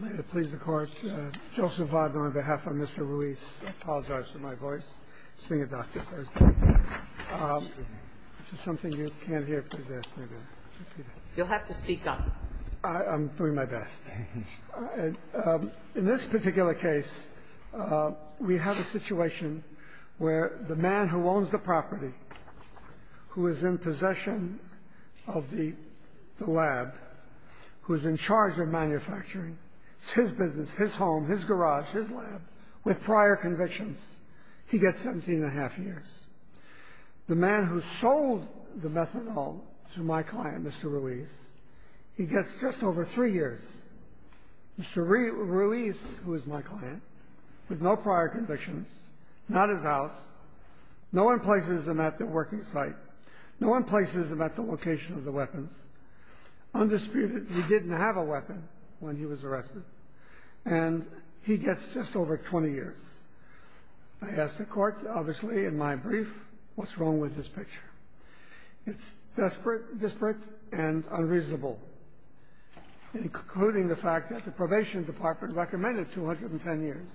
on behalf of Mr. Ruiz, I apologize for my voice, seeing a doctor first, which is something you can't hear. You'll have to speak up. I'm doing my best. In this particular case, we have a situation where the man who owns the property, who is in possession of the lab, who is in charge of manufacturing, it's his business, his home, his garage, his lab, with prior convictions, he gets 17 and a half years. The man who sold the methanol to my client, Mr. Ruiz, he gets just over three years. Mr. Ruiz, who is my client, with no prior convictions, not his house, no one places him at the working site, no one places him at the location of the weapons. Undisputedly, he didn't have a weapon when he was arrested. And he gets just over 20 years. I asked the Court, obviously, in my brief, what's wrong with this picture? It's desperate, disparate, and unreasonable, including the fact that the Probation Department recommended 210 years.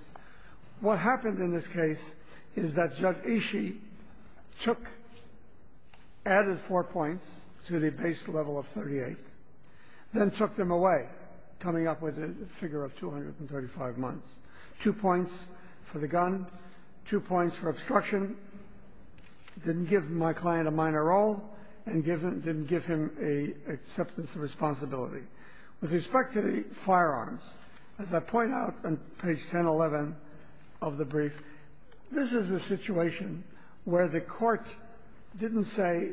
What happened in this case is that Judge Ishii took, added four points to the base level of 38, then took them away, coming up with a figure of 235 months. Two points for the gun, two points for obstruction, didn't give my client a minor role, and didn't give him an acceptance of responsibility. With respect to the firearms, as I point out on page 1011 of the brief, this is a situation where the Court didn't say,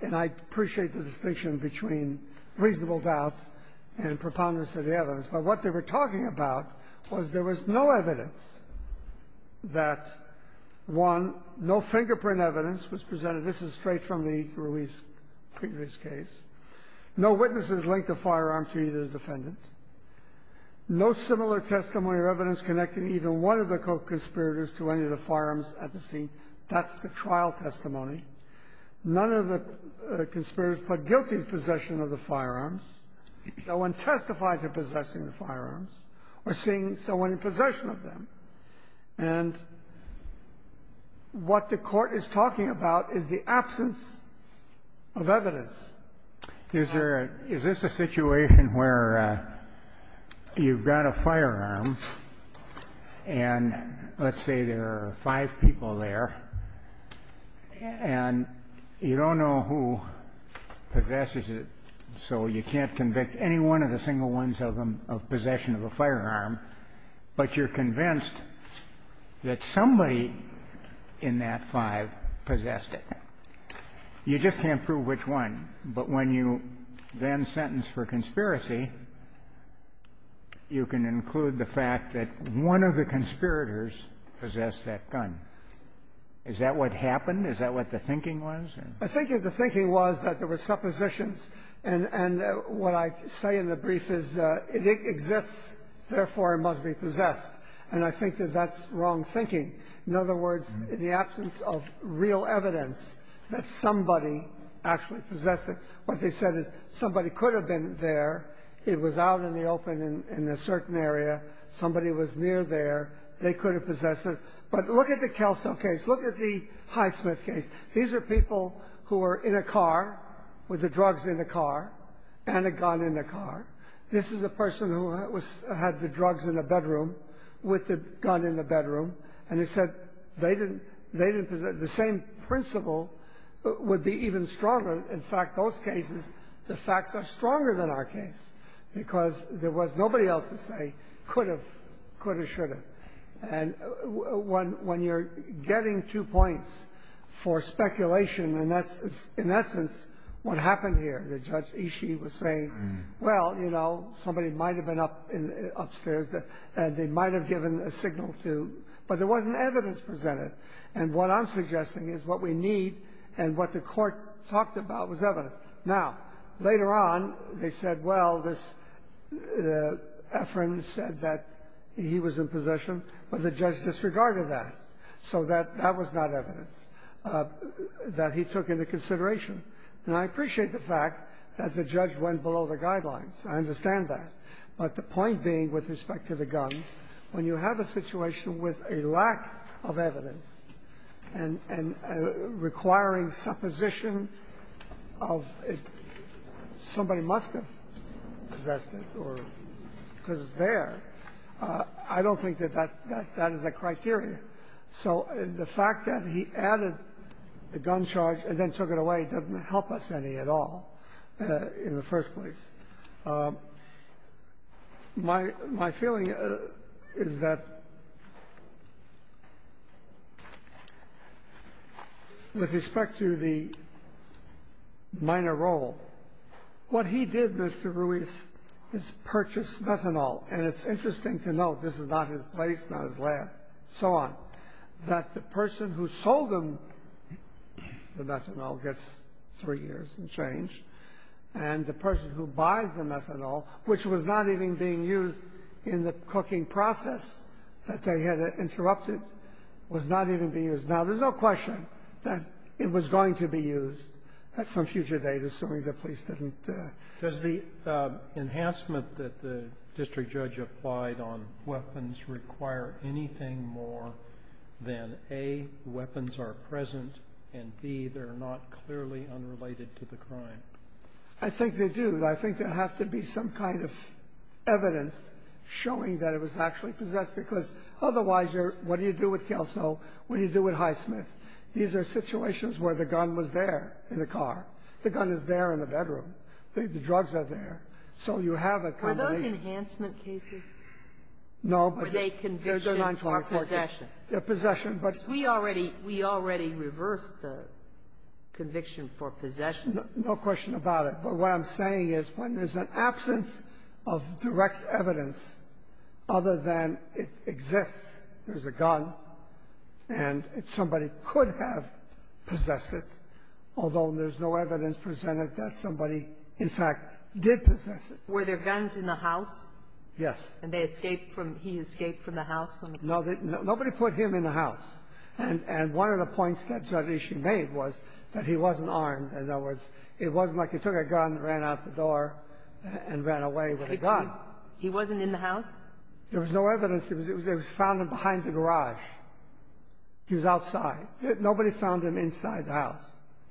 and I appreciate the distinction between reasonable doubt and preponderance of the evidence, but what they were talking about was there was no evidence that, one, no fingerprint evidence was presented. This is straight from the Ruiz previous case. No witnesses linked a firearm to either defendant. No similar testimony or evidence connecting even one of the co-conspirators to any of the firearms at the scene. That's the trial testimony. None of the conspirators put guilt in possession of the firearms. No one testified to possessing the firearms or seeing someone in possession of them. And what the Court is talking about is the absence of evidence. Is there a, is this a situation where you've got a firearm, and let's say there are five people there. And you don't know who possesses it, so you can't convict any one of the single ones of possession of a firearm. But you're convinced that somebody in that five possessed it. You just can't prove which one. But when you then sentence for conspiracy, you can include the fact that one of the conspirators possessed that gun. Is that what happened? Is that what the thinking was? I think the thinking was that there were suppositions, and what I say in the brief is it exists, therefore it must be possessed. And I think that that's wrong thinking. In other words, in the absence of real evidence that somebody actually possessed it, what they said is somebody could have been there. It was out in the open in a certain area. Somebody was near there. They could have possessed it. But look at the Kelso case. Look at the Highsmith case. These are people who were in a car with the drugs in the car and a gun in the car. This is a person who had the drugs in the bedroom with the gun in the bedroom. And they said the same principle would be even stronger. In fact, those cases, the facts are stronger than our case because there was nobody else to say could have, could have, should have. And when you're getting two points for speculation, and that's in essence what happened here. The judge, Ishii, was saying, well, you know, somebody might have been up in, upstairs, and they might have given a signal to, but there wasn't evidence presented. And what I'm suggesting is what we need and what the court talked about was evidence. Now, later on, they said, well, this, the, Efron said that he was in possession, but the judge disregarded that. So that, that was not evidence that he took into consideration. Now, I appreciate the fact that the judge went below the guidelines. I understand that. But the point being with respect to the gun, when you have a situation with a lack of evidence and, and requiring supposition of somebody must have possessed it or because it's there, I don't think that that, that, that is a criteria. So the fact that he added the gun charge and then took it away doesn't help us any at all in the first place. My, my feeling is that with respect to the minor role, what he did, Mr. Ruiz, is purchase methanol. And it's interesting to note, this is not his place, not his lab, so on, that the person who sold him the methanol gets three years and change. And the person who buys the methanol, which was not even being used in the cooking process that they had interrupted, was not even being used. Now, there's no question that it was going to be used at some future date, assuming the police didn't do it. The enhancement that the district judge applied on weapons require anything more than, A, weapons are present, and, B, they're not clearly unrelated to the crime. I think they do. I think there has to be some kind of evidence showing that it was actually possessed because otherwise you're, what do you do with Kelso, what do you do with Highsmith? These are situations where the gun was there in the car. The gun is there in the bedroom. The drugs are there. So you have a combination. Sotomayor, were those enhancement cases? No, but they're not called possession. They're possession, but we already reversed the conviction for possession. No question about it. But what I'm saying is when there's an absence of direct evidence other than it exists, there's a gun, and somebody could have possessed it, although there's no evidence presented that somebody, in fact, did possess it. Were there guns in the house? Yes. And they escaped from the house? No, nobody put him in the house. And one of the points that Zardisci made was that he wasn't armed, and it wasn't like he took a gun, ran out the door, and ran away with a gun. He wasn't in the house? There was no evidence. They found him behind the garage. He was outside. Nobody found him inside the house.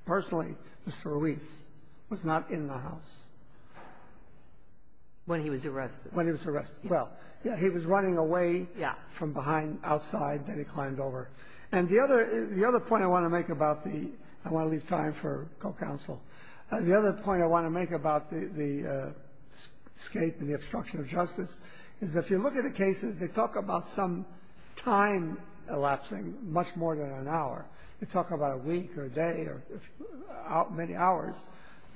Personally, Mr. Ruiz was not in the house. When he was arrested? When he was arrested. Well, yeah, he was running away from behind, outside, then he climbed over. And the other point I want to make about the—I want to leave time for co-counsel—the other point I want to make about the escape and the obstruction of justice is that if you look at the cases, they talk about some time elapsing, much more than an hour. They talk about a week or a day or many hours.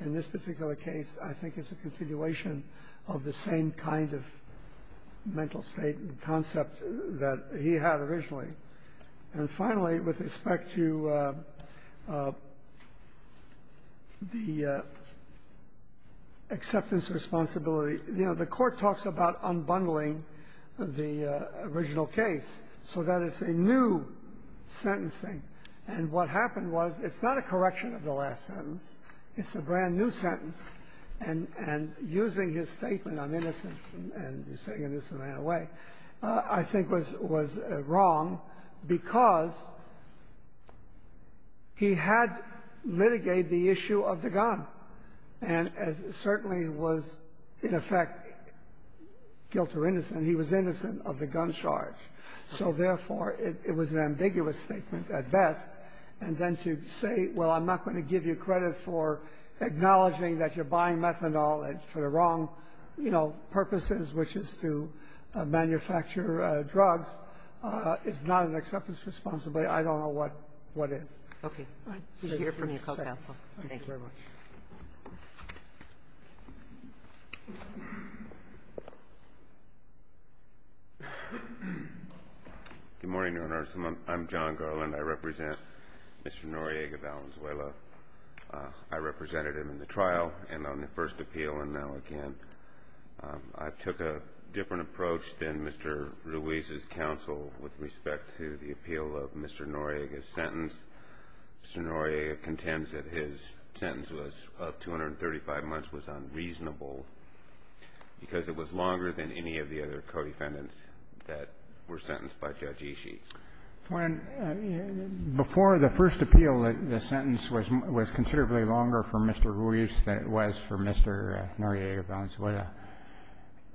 In this particular case, I think it's a continuation of the same kind of mental state, the concept that he had originally. And finally, with respect to the acceptance of responsibility, you know, the Court talks about unbundling the original case so that it's a new sentencing. And what happened was, it's not a correction of the last sentence. It's a brand-new sentence. And using his statement, I'm innocent, and he's saying an innocent man away, I think was wrong because he had litigated the issue of the gun. And it certainly was, in effect, guilt or innocence. He was innocent of the gun charge. So, therefore, it was an ambiguous statement at best. And then to say, well, I'm not going to give you credit for acknowledging that you're buying methanol for the wrong, you know, purposes, which is to manufacture drugs, is not an acceptance of responsibility. I don't know what is. Okay. I'd like to hear from you. Call counsel. Thank you. Thank you very much. Good morning, Your Honor. I'm John Garland. I represent Mr. Noriega Valenzuela. I represented him in the trial and on the first appeal, and now again. I took a different approach than Mr. Ruiz's counsel with respect to the appeal of Mr. Noriega's sentence. Mr. Noriega contends that his sentence of 235 months was unreasonable because it was longer than any of the other co-defendants that were sentenced by Judge Ishii. Before the first appeal, the sentence was considerably longer for Mr. Ruiz than it was for Mr. Noriega Valenzuela.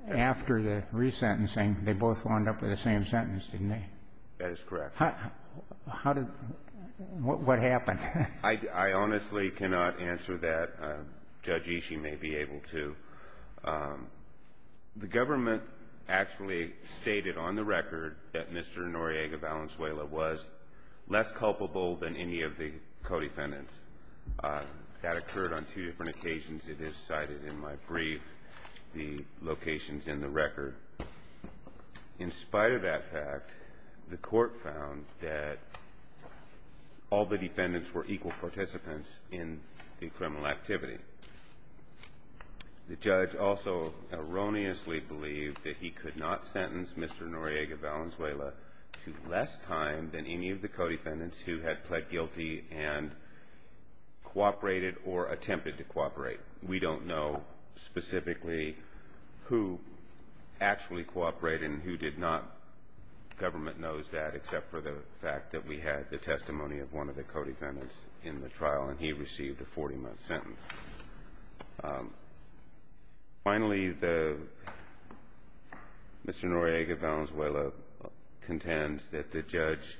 After the resentencing, they both wound up with the same sentence, didn't they? That is correct. What happened? I honestly cannot answer that. Judge Ishii may be able to. The government actually stated on the record that Mr. Noriega Valenzuela was less culpable than any of the co-defendants. That occurred on two different occasions. It is cited in my brief, the locations in the record. In spite of that fact, the court found that all the defendants were equal participants in the criminal activity. The judge also erroneously believed that he could not sentence Mr. Noriega Valenzuela to less time than any of the co-defendants who had pled guilty and cooperated or attempted to cooperate. We don't know specifically who actually cooperated and who did not. Government knows that except for the fact that we had the testimony of one of the co-defendants in the trial, and he received a 40-month sentence. Finally, Mr. Noriega Valenzuela contends that the judge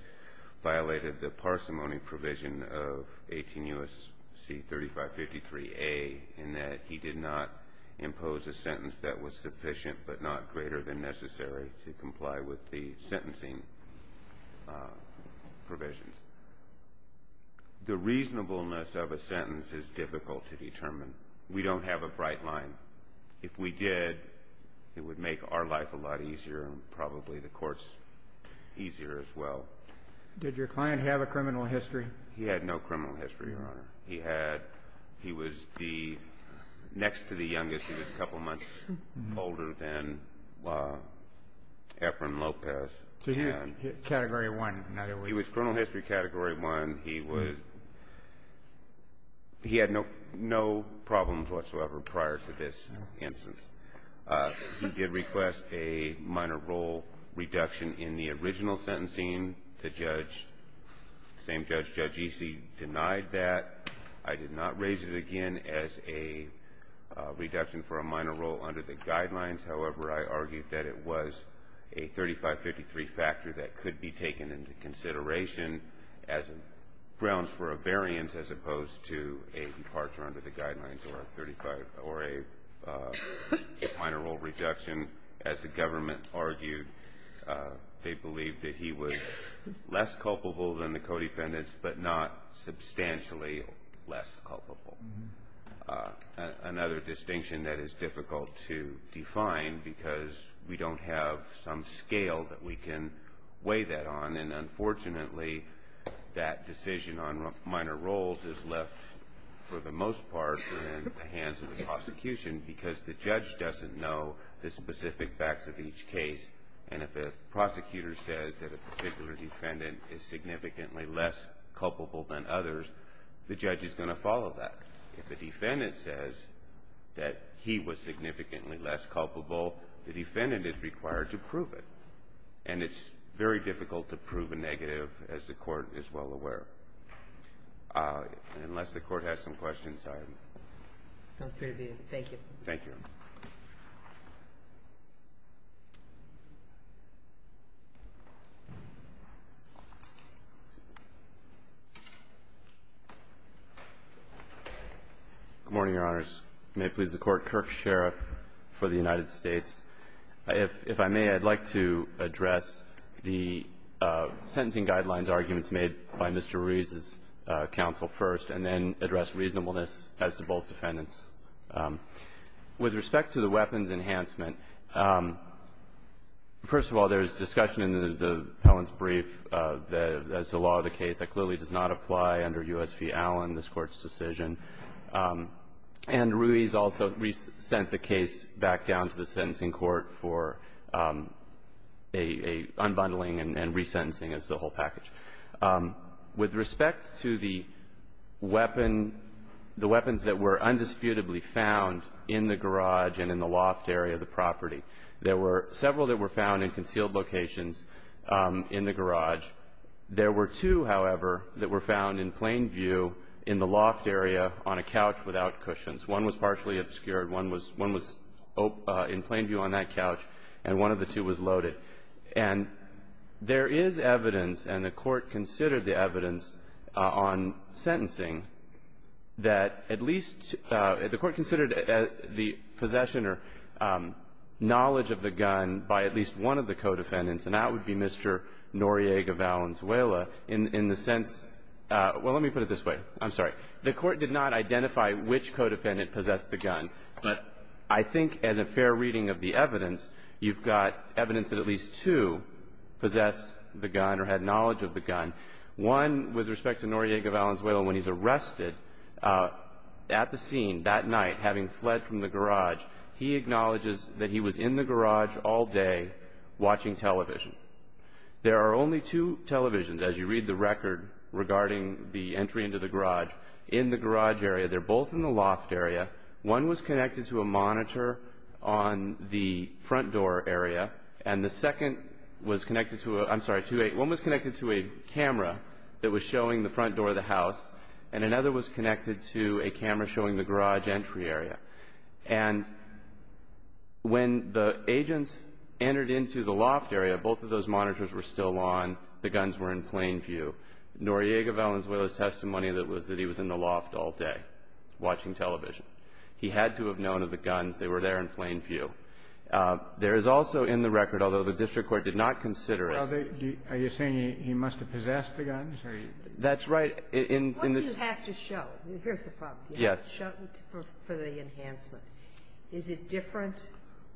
violated the parsimony provision of 18 U.S.C. 3553A in that he did not impose a sentence that was sufficient but not greater than necessary to comply with the sentencing provisions. The reasonableness of a sentence is difficult to determine. We don't have a bright line. If we did, it would make our life a lot easier and probably the court's easier as well. Did your client have a criminal history? He had no criminal history, Your Honor. He had he was the next to the youngest. He was a couple months older than Efren Lopez. So he was Category 1. He was criminal history Category 1. He was he had no problems whatsoever prior to this instance. He did request a minor role reduction in the original sentencing. The same judge, Judge Easey, denied that. I did not raise it again as a reduction for a minor role under the guidelines. However, I argued that it was a 3553 factor that could be taken into consideration as grounds for a variance as opposed to a departure under the guidelines or a minor role reduction. As the government argued, they believed that he was less culpable than the co-defendants, but not substantially less culpable. Another distinction that is difficult to define because we don't have some scale that we can weigh that on. And unfortunately, that decision on minor roles is left for the most part in the hands of the prosecution because the judge doesn't know the specific facts of each case. And if a prosecutor says that a particular defendant is significantly less culpable than others, the judge is going to follow that. If the defendant says that he was significantly less culpable, the defendant is required to prove it. And it's very difficult to prove a negative, as the court is well aware, unless the court has some questions. I'm sorry. I'm free to be. Thank you. Thank you. Good morning, Your Honors. May it please the Court. Kirk Sherriff for the United States. If I may, I'd like to address the sentencing guidelines arguments made by Mr. Ruiz and Mr. Ruiz, and address reasonableness as to both defendants. With respect to the weapons enhancement, first of all, there's discussion in the appellant's brief that it's a law of the case that clearly does not apply under U.S. v. Allen, this Court's decision. And Ruiz also sent the case back down to the sentencing court for an unbundling and resentencing as the whole package. With respect to the weapon, the weapons that were undisputably found in the garage and in the loft area of the property, there were several that were found in concealed locations in the garage. There were two, however, that were found in plain view in the loft area on a couch without cushions. One was partially obscured, one was in plain view on that couch, and one of the two was loaded. And there is evidence, and the Court considered the evidence on sentencing, that at least the Court considered the possession or knowledge of the gun by at least one of the co-defendants. And that would be Mr. Noriega Valenzuela in the sense, well, let me put it this way, I'm sorry. The Court did not identify which co-defendant possessed the gun, but I think as a fair reading of the evidence, you've got evidence that at least two possessed the gun or had knowledge of the gun. One, with respect to Noriega Valenzuela, when he's arrested at the scene that night, having fled from the garage, he acknowledges that he was in the garage all day watching television. There are only two televisions, as you read the record regarding the entry into the garage, in the garage area. They're both in the loft area. One was connected to a monitor on the front door area, and the second was connected to a, I'm sorry, one was connected to a camera that was showing the front door of the house, and another was connected to a camera showing the garage entry area. And when the agents entered into the loft area, both of those monitors were still on, the guns were in plain view. Noriega Valenzuela's testimony was that he was in the loft all day watching television. He had to have known of the guns. They were there in plain view. There is also in the record, although the district court did not consider it. Well, are you saying he must have possessed the guns? That's right. What do you have to show? Here's the problem. You have to show it for the enhancement. Is it different,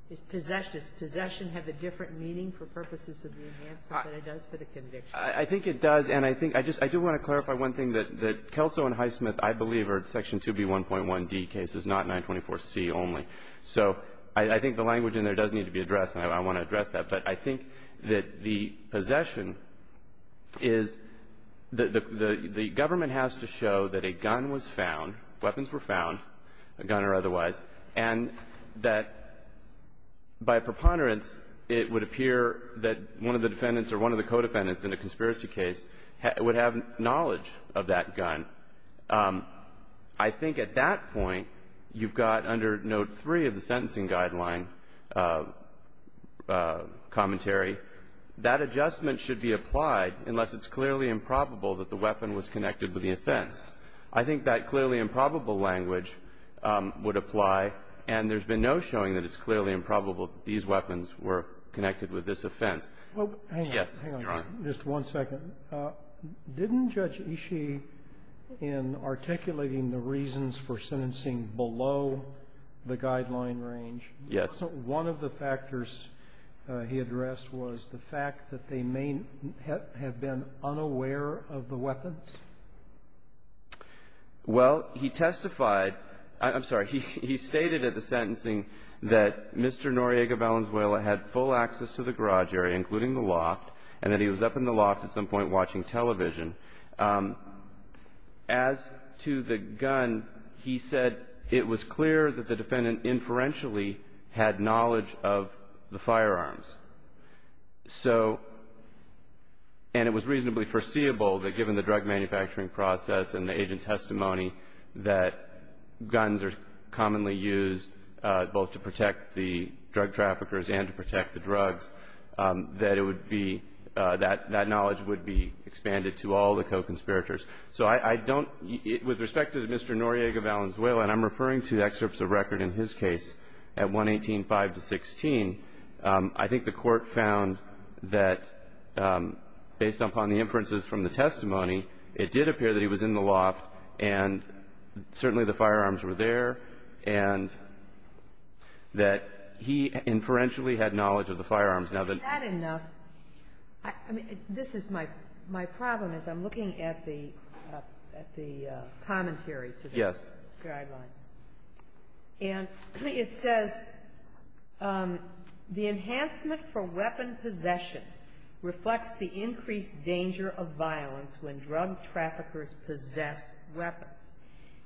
does possession have a different meaning for purposes of the enhancement than it does for the conviction? I think it does, and I think, I just, I do want to clarify one thing that Kelso and Highsmith, I believe, are Section 2B1.1D cases, not 924C only. So I think the language in there does need to be addressed, and I want to address that. But I think that the possession is, the government has to show that a gun was found. Weapons were found, a gun or otherwise. And that by preponderance, it would appear that one of the defendants or one of the co-defendants in a conspiracy case would have knowledge of that gun. I think at that point, you've got under note three of the sentencing guideline commentary. That adjustment should be applied unless it's clearly improbable that the weapon was connected with the offense. I think that clearly improbable language would apply, and there's been no showing that it's clearly improbable that these weapons were connected with this offense. Well, hang on. Yes, Your Honor. Just one second. Didn't Judge Ishii, in articulating the reasons for sentencing below the guideline range, one of the factors he addressed was the fact that they may have been unaware of the weapons? Well, he testified, I'm sorry, he stated at the sentencing that Mr. Noriega Valenzuela had full access to the garage area, including the loft, and that he was up in the loft at some point watching television. As to the gun, he said it was clear that the defendant inferentially had knowledge of the firearms. So, and it was reasonably foreseeable that given the drug manufacturing process and the agent testimony that guns are commonly used both to protect the drug traffickers and to protect the drugs, that it would be, that knowledge would be expanded to all the co-conspirators. So I don't, with respect to Mr. Noriega Valenzuela, and I'm referring to excerpts of record in his case at 118-5-16, I think the court found that based upon the inferences from the testimony, it did appear that he was in the loft, and certainly the firearms were there. And that he inferentially had knowledge of the firearms. Now, the next question is, is that enough? I mean, this is my problem, is I'm looking at the commentary to the guideline. Yes. And it says, the enhancement for weapon possession reflects the increased danger of violence when drug traffickers possess weapons.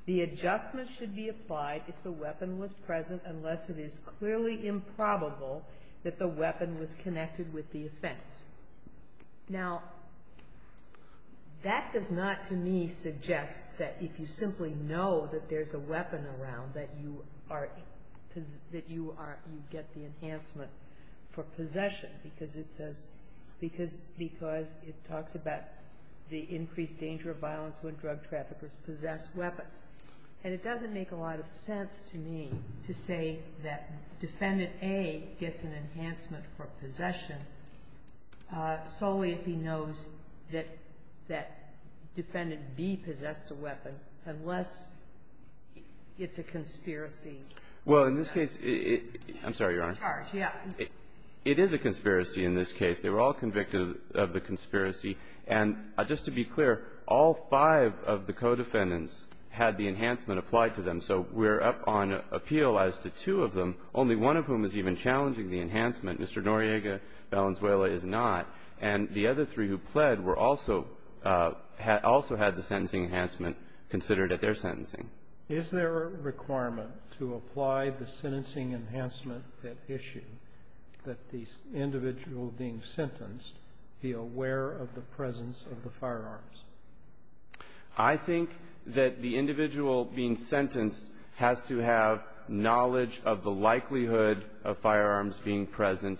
The adjustment should be applied if the weapon was present, unless it is clearly improbable that the weapon was connected with the offense. Now, that does not, to me, suggest that if you simply know that there's a weapon around that you are, that you get the enhancement for possession, because it says, because it talks about the increased danger of violence when drug traffickers possess weapons. And it doesn't make a lot of sense to me to say that Defendant A gets an enhancement for possession solely if he knows that Defendant B possessed a weapon, unless it's a conspiracy. Well, in this case, it – I'm sorry, Your Honor. It is a conspiracy in this case. They were all convicted of the conspiracy. And just to be clear, all five of the co-defendants had the enhancement applied to them. So we're up on appeal as to two of them, only one of whom is even challenging the enhancement. Mr. Noriega Valenzuela is not. And the other three who pled were also – also had the sentencing enhancement considered at their sentencing. Is there a requirement to apply the sentencing enhancement at issue that the individual being sentenced be aware of the presence of the firearms? I think that the individual being sentenced has to have knowledge of the likelihood of firearms being present,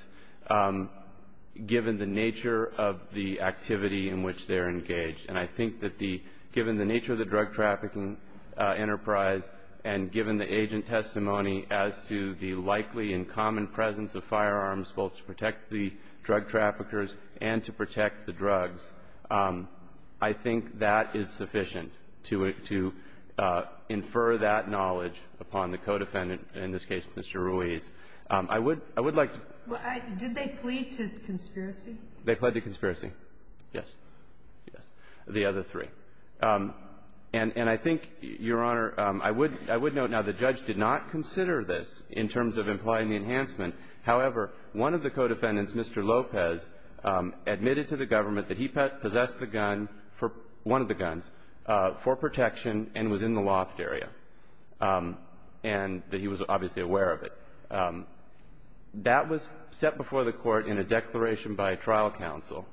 given the nature of the activity in which they're engaged. And I think that the – given the nature of the drug trafficking enterprise, and given the agent testimony as to the likely and common presence of firearms, both to protect the drug traffickers and to protect the drugs, I think that is sufficient to infer that knowledge upon the co-defendant, in this case, Mr. Ruiz. I would – I would like to – Well, did they plead to conspiracy? They pled to conspiracy. Yes. Yes. The other three. And I think, Your Honor, I would – I would note, now, the judge did not consider this in terms of applying the enhancement. However, one of the co-defendants, Mr. Lopez, admitted to the government that he possessed the gun for – one of the guns – for protection and was in the loft area, and that he was obviously aware of it. That was set before the Court in a declaration by trial counsel.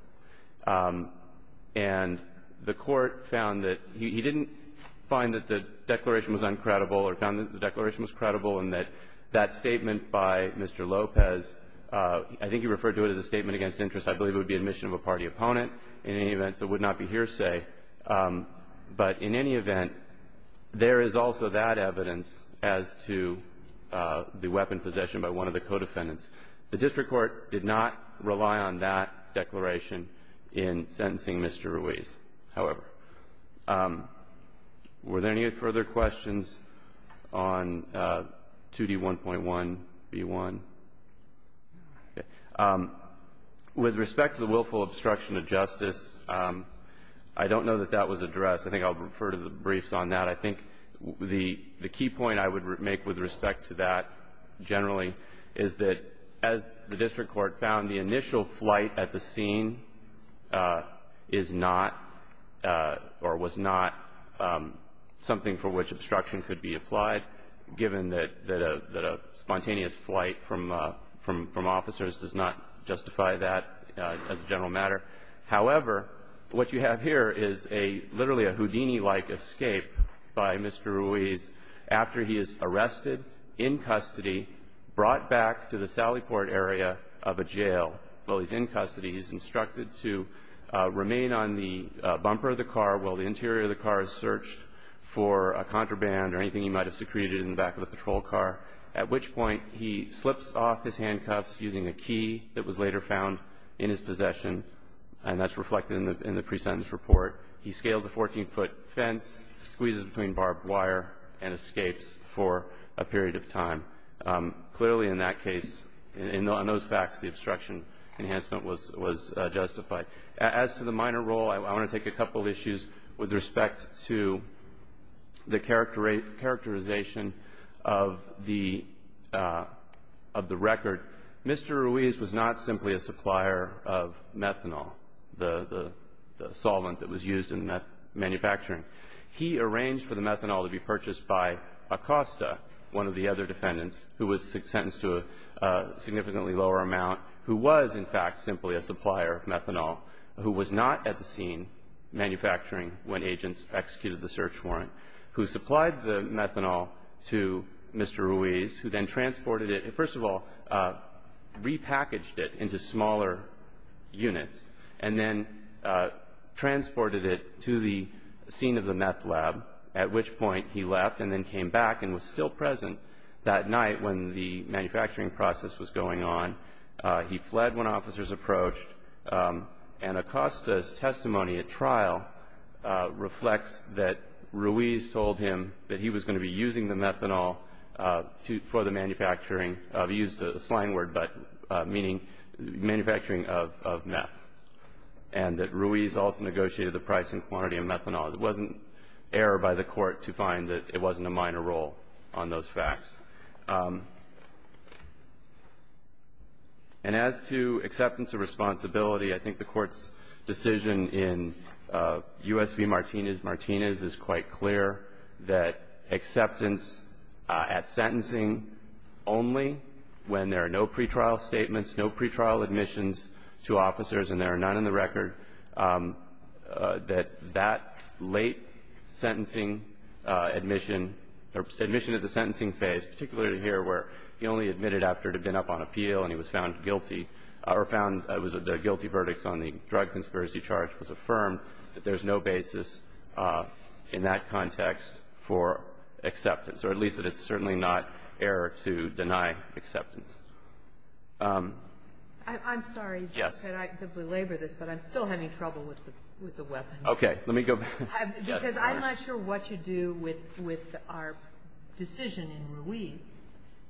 And the Court found that – he didn't find that the declaration was uncredible or found that the declaration was credible and that that statement by Mr. Lopez – I think he referred to it as a statement against interest. I believe it would be admission of a party opponent in any event, so it would not be hearsay. But in any event, there is also that evidence as to the weapon possession by one of the co-defendants. The district court did not rely on that declaration in sentencing Mr. Ruiz, however. Were there any further questions on 2D1.1b1? With respect to the willful obstruction of justice, I don't know that that was addressed. I think I'll refer to the briefs on that. I think the key point I would make with respect to that, generally, is that as the district court found, the initial flight at the scene is not or was not something for which obstruction could be applied, given that a spontaneous flight from officers does not justify that as a general matter. However, what you have here is literally a Houdini-like escape by Mr. Ruiz after he is arrested, in custody, brought back to the Sallyport area of a jail. While he's in custody, he's instructed to remain on the bumper of the car while the interior of the car is searched for a contraband or anything he might have secreted in the back of a patrol car, at which point he slips off his handcuffs using a key that was later found in his possession. And that's reflected in the pre-sentence report. He scales a 14-foot fence, squeezes between barbed wire, and escapes for a period of time. Clearly, in that case, in those facts, the obstruction enhancement was justified. As to the minor role, I want to take a couple issues with respect to the characterization of the record. Mr. Ruiz was not simply a supplier of methanol, the solvent that was used in manufacturing. He arranged for the methanol to be purchased by Acosta, one of the other defendants, who was sentenced to a significantly lower amount, who was, in fact, simply a supplier of methanol, who was not at the scene manufacturing when agents executed the search warrant, who supplied the methanol to Mr. Ruiz, who then transported it. First of all, repackaged it into smaller units and then transported it to the scene of the meth lab, at which point he left and then came back and was still present that night when the manufacturing process was going on. He fled when officers approached. And Acosta's testimony at trial reflects that Ruiz told him that he was going to be using the methanol for the manufacturing of, he used a slang word, but meaning manufacturing of meth. And that Ruiz also negotiated the price and quantity of methanol. It wasn't error by the court to find that it wasn't a minor role on those facts. And as to acceptance of responsibility, I think the court's decision in U.S. v. Martinez-Martinez is quite clear that acceptance at sentencing only when there are no pretrial statements, no pretrial admissions to officers and there are none in the record, that that late sentencing admission or admission at the sentencing phase, particularly here where he only admitted after it had been up on appeal and he was found guilty, or found the guilty verdicts on the drug conspiracy charge was affirmed, that there's no basis in that context for acceptance, or at least that it's certainly not error to deny acceptance. I'm sorry, Judge, that I could belabor this, but I'm still having trouble with the weapons. Okay. Let me go back. Because I'm not sure what you do with our decision in Ruiz,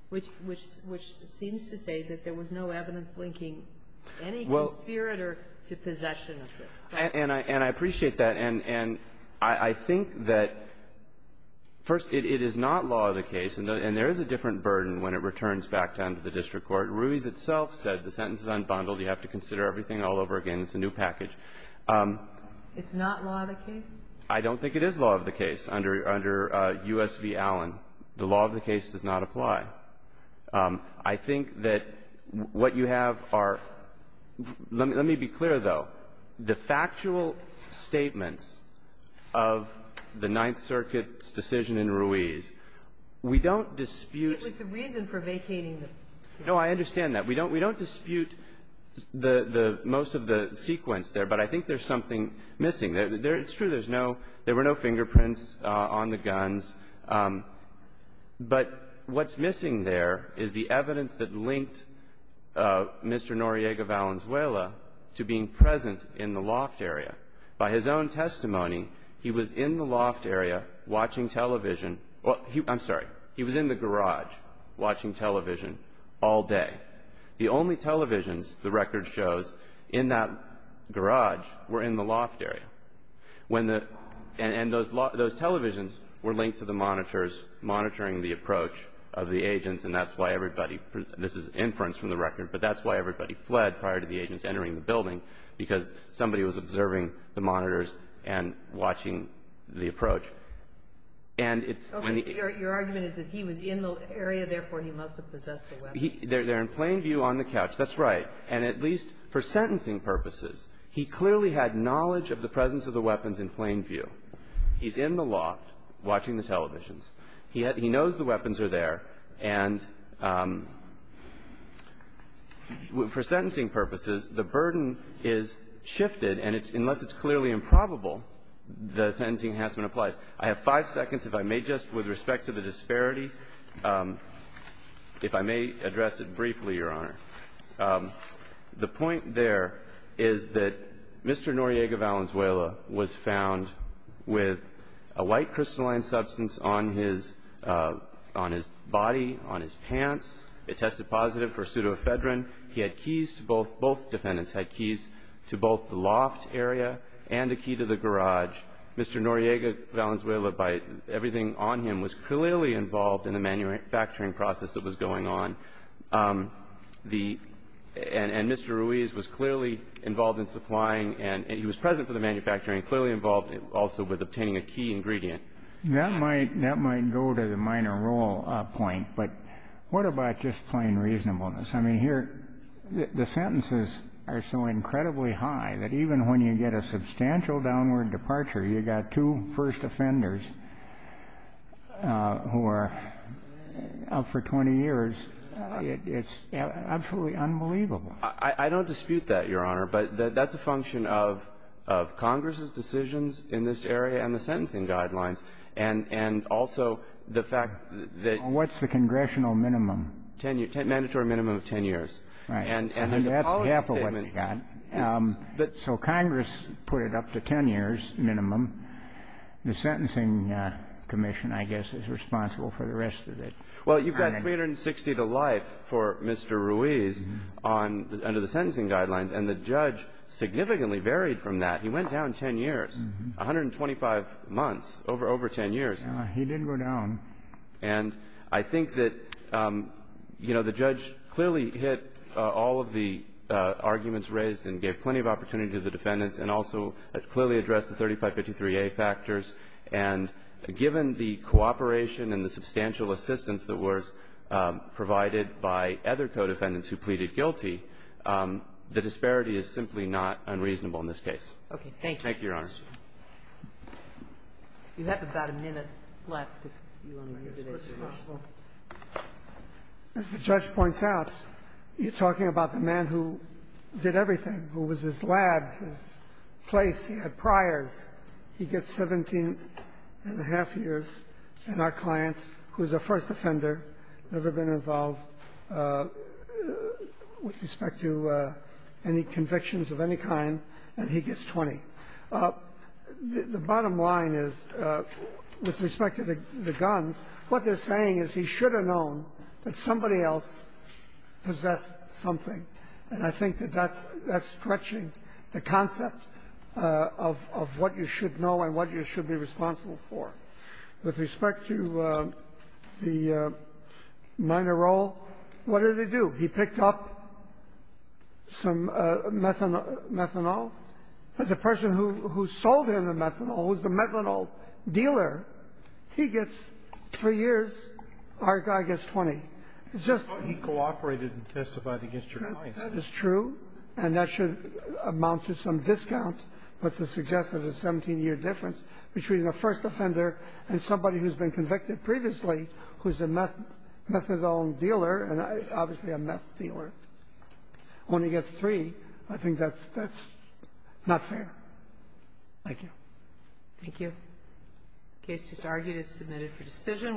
which seems to say that there was no evidence linking any conspirator to possession of this. And I appreciate that. And I think that, first, it is not law of the case, and there is a different burden when it returns back down to the district court. Ruiz itself said the sentence is unbundled. You have to consider everything all over again. It's a new package. It's not law of the case? I don't think it is law of the case under U.S. v. Allen. The law of the case does not apply. I think that what you have are – let me be clear, though. The factual statements of the Ninth Circuit's decision in Ruiz, we don't dispute It was the reason for vacating the – No, I understand that. We don't dispute the most of the sequence there, but I think there's something missing. It's true, there's no – there were no fingerprints on the guns. But what's missing there is the evidence that linked Mr. Noriega Valenzuela to being present in the loft area. By his own testimony, he was in the loft area watching television – I'm sorry. He was in the garage watching television all day. The only televisions the record shows in that garage were in the loft area. And those televisions were linked to the monitors monitoring the approach of the agents, and that's why everybody – this is inference from the record – but that's why everybody fled prior to the agents entering the building, because somebody was observing the monitors and watching the approach. And it's when the – Your argument is that he was in the area, therefore, he must have possessed the weapon. They're in plain view on the couch. That's right. And at least for sentencing purposes, he clearly had knowledge of the presence of the weapons in plain view. He's in the loft watching the televisions. He knows the weapons are there, and for sentencing purposes, the burden is shifted, and it's – unless it's clearly improbable, the sentencing enhancement applies. I have five seconds if I may, just with respect to the disparity, if I may address it briefly, Your Honor. The point there is that Mr. Noriega Valenzuela was found with a white crystalline substance on his – on his body, on his pants. It tested positive for pseudoephedrine. He had keys to both – both defendants had keys to both the loft area and a key to the garage. Mr. Noriega Valenzuela, by everything on him, was clearly involved in the manufacturing process that was going on. The – and Mr. Ruiz was clearly involved in supplying, and he was present for the manufacturing, clearly involved also with obtaining a key ingredient. That might – that might go to the minor role point, but what about just plain reasonableness? I mean, here, the sentences are so incredibly high that even when you get a substantial downward departure, you've got two first offenders who are up for 20 years, it's absolutely unbelievable. I don't dispute that, Your Honor, but that's a function of Congress's decisions in this area and the sentencing guidelines, and also the fact that – What's the congressional minimum? Mandatory minimum of 10 years. Right. And as a policy statement – The sentencing commission, I guess, is responsible for the rest of it. Well, you've got 360 to life for Mr. Ruiz on – under the sentencing guidelines, and the judge significantly varied from that. He went down 10 years, 125 months, over – over 10 years. He didn't go down. And I think that, you know, the judge clearly hit all of the arguments raised and gave plenty of opportunity to the defendants and also clearly addressed the 3553A factors. And given the cooperation and the substantial assistance that was provided by other co-defendants who pleaded guilty, the disparity is simply not unreasonable in this case. Okay. Thank you. Thank you, Your Honor. You have about a minute left, if you want to use it as your last. Mr. Judge points out, you're talking about the man who did everything, who was his lab, his place, he had priors. He gets 17 and a half years, and our client, who's a first offender, never been involved with respect to any convictions of any kind, and he gets 20. The bottom line is, with respect to the guns, what they're saying is he should have known that somebody else possessed something. And I think that that's stretching the concept of what you should know and what you should be responsible for. With respect to the minor role, what did he do? He picked up some methanol. The person who sold him the methanol, who's the methanol dealer, he gets three years. Our guy gets 20. It's just the other way around. That is true, and that should amount to some discount, but to suggest that a 17-year difference between a first offender and somebody who's been convicted previously, who's a methadone dealer, and obviously a meth dealer, only gets three, I think that's not fair. Thank you. Thank you. The case just argued is submitted for decision.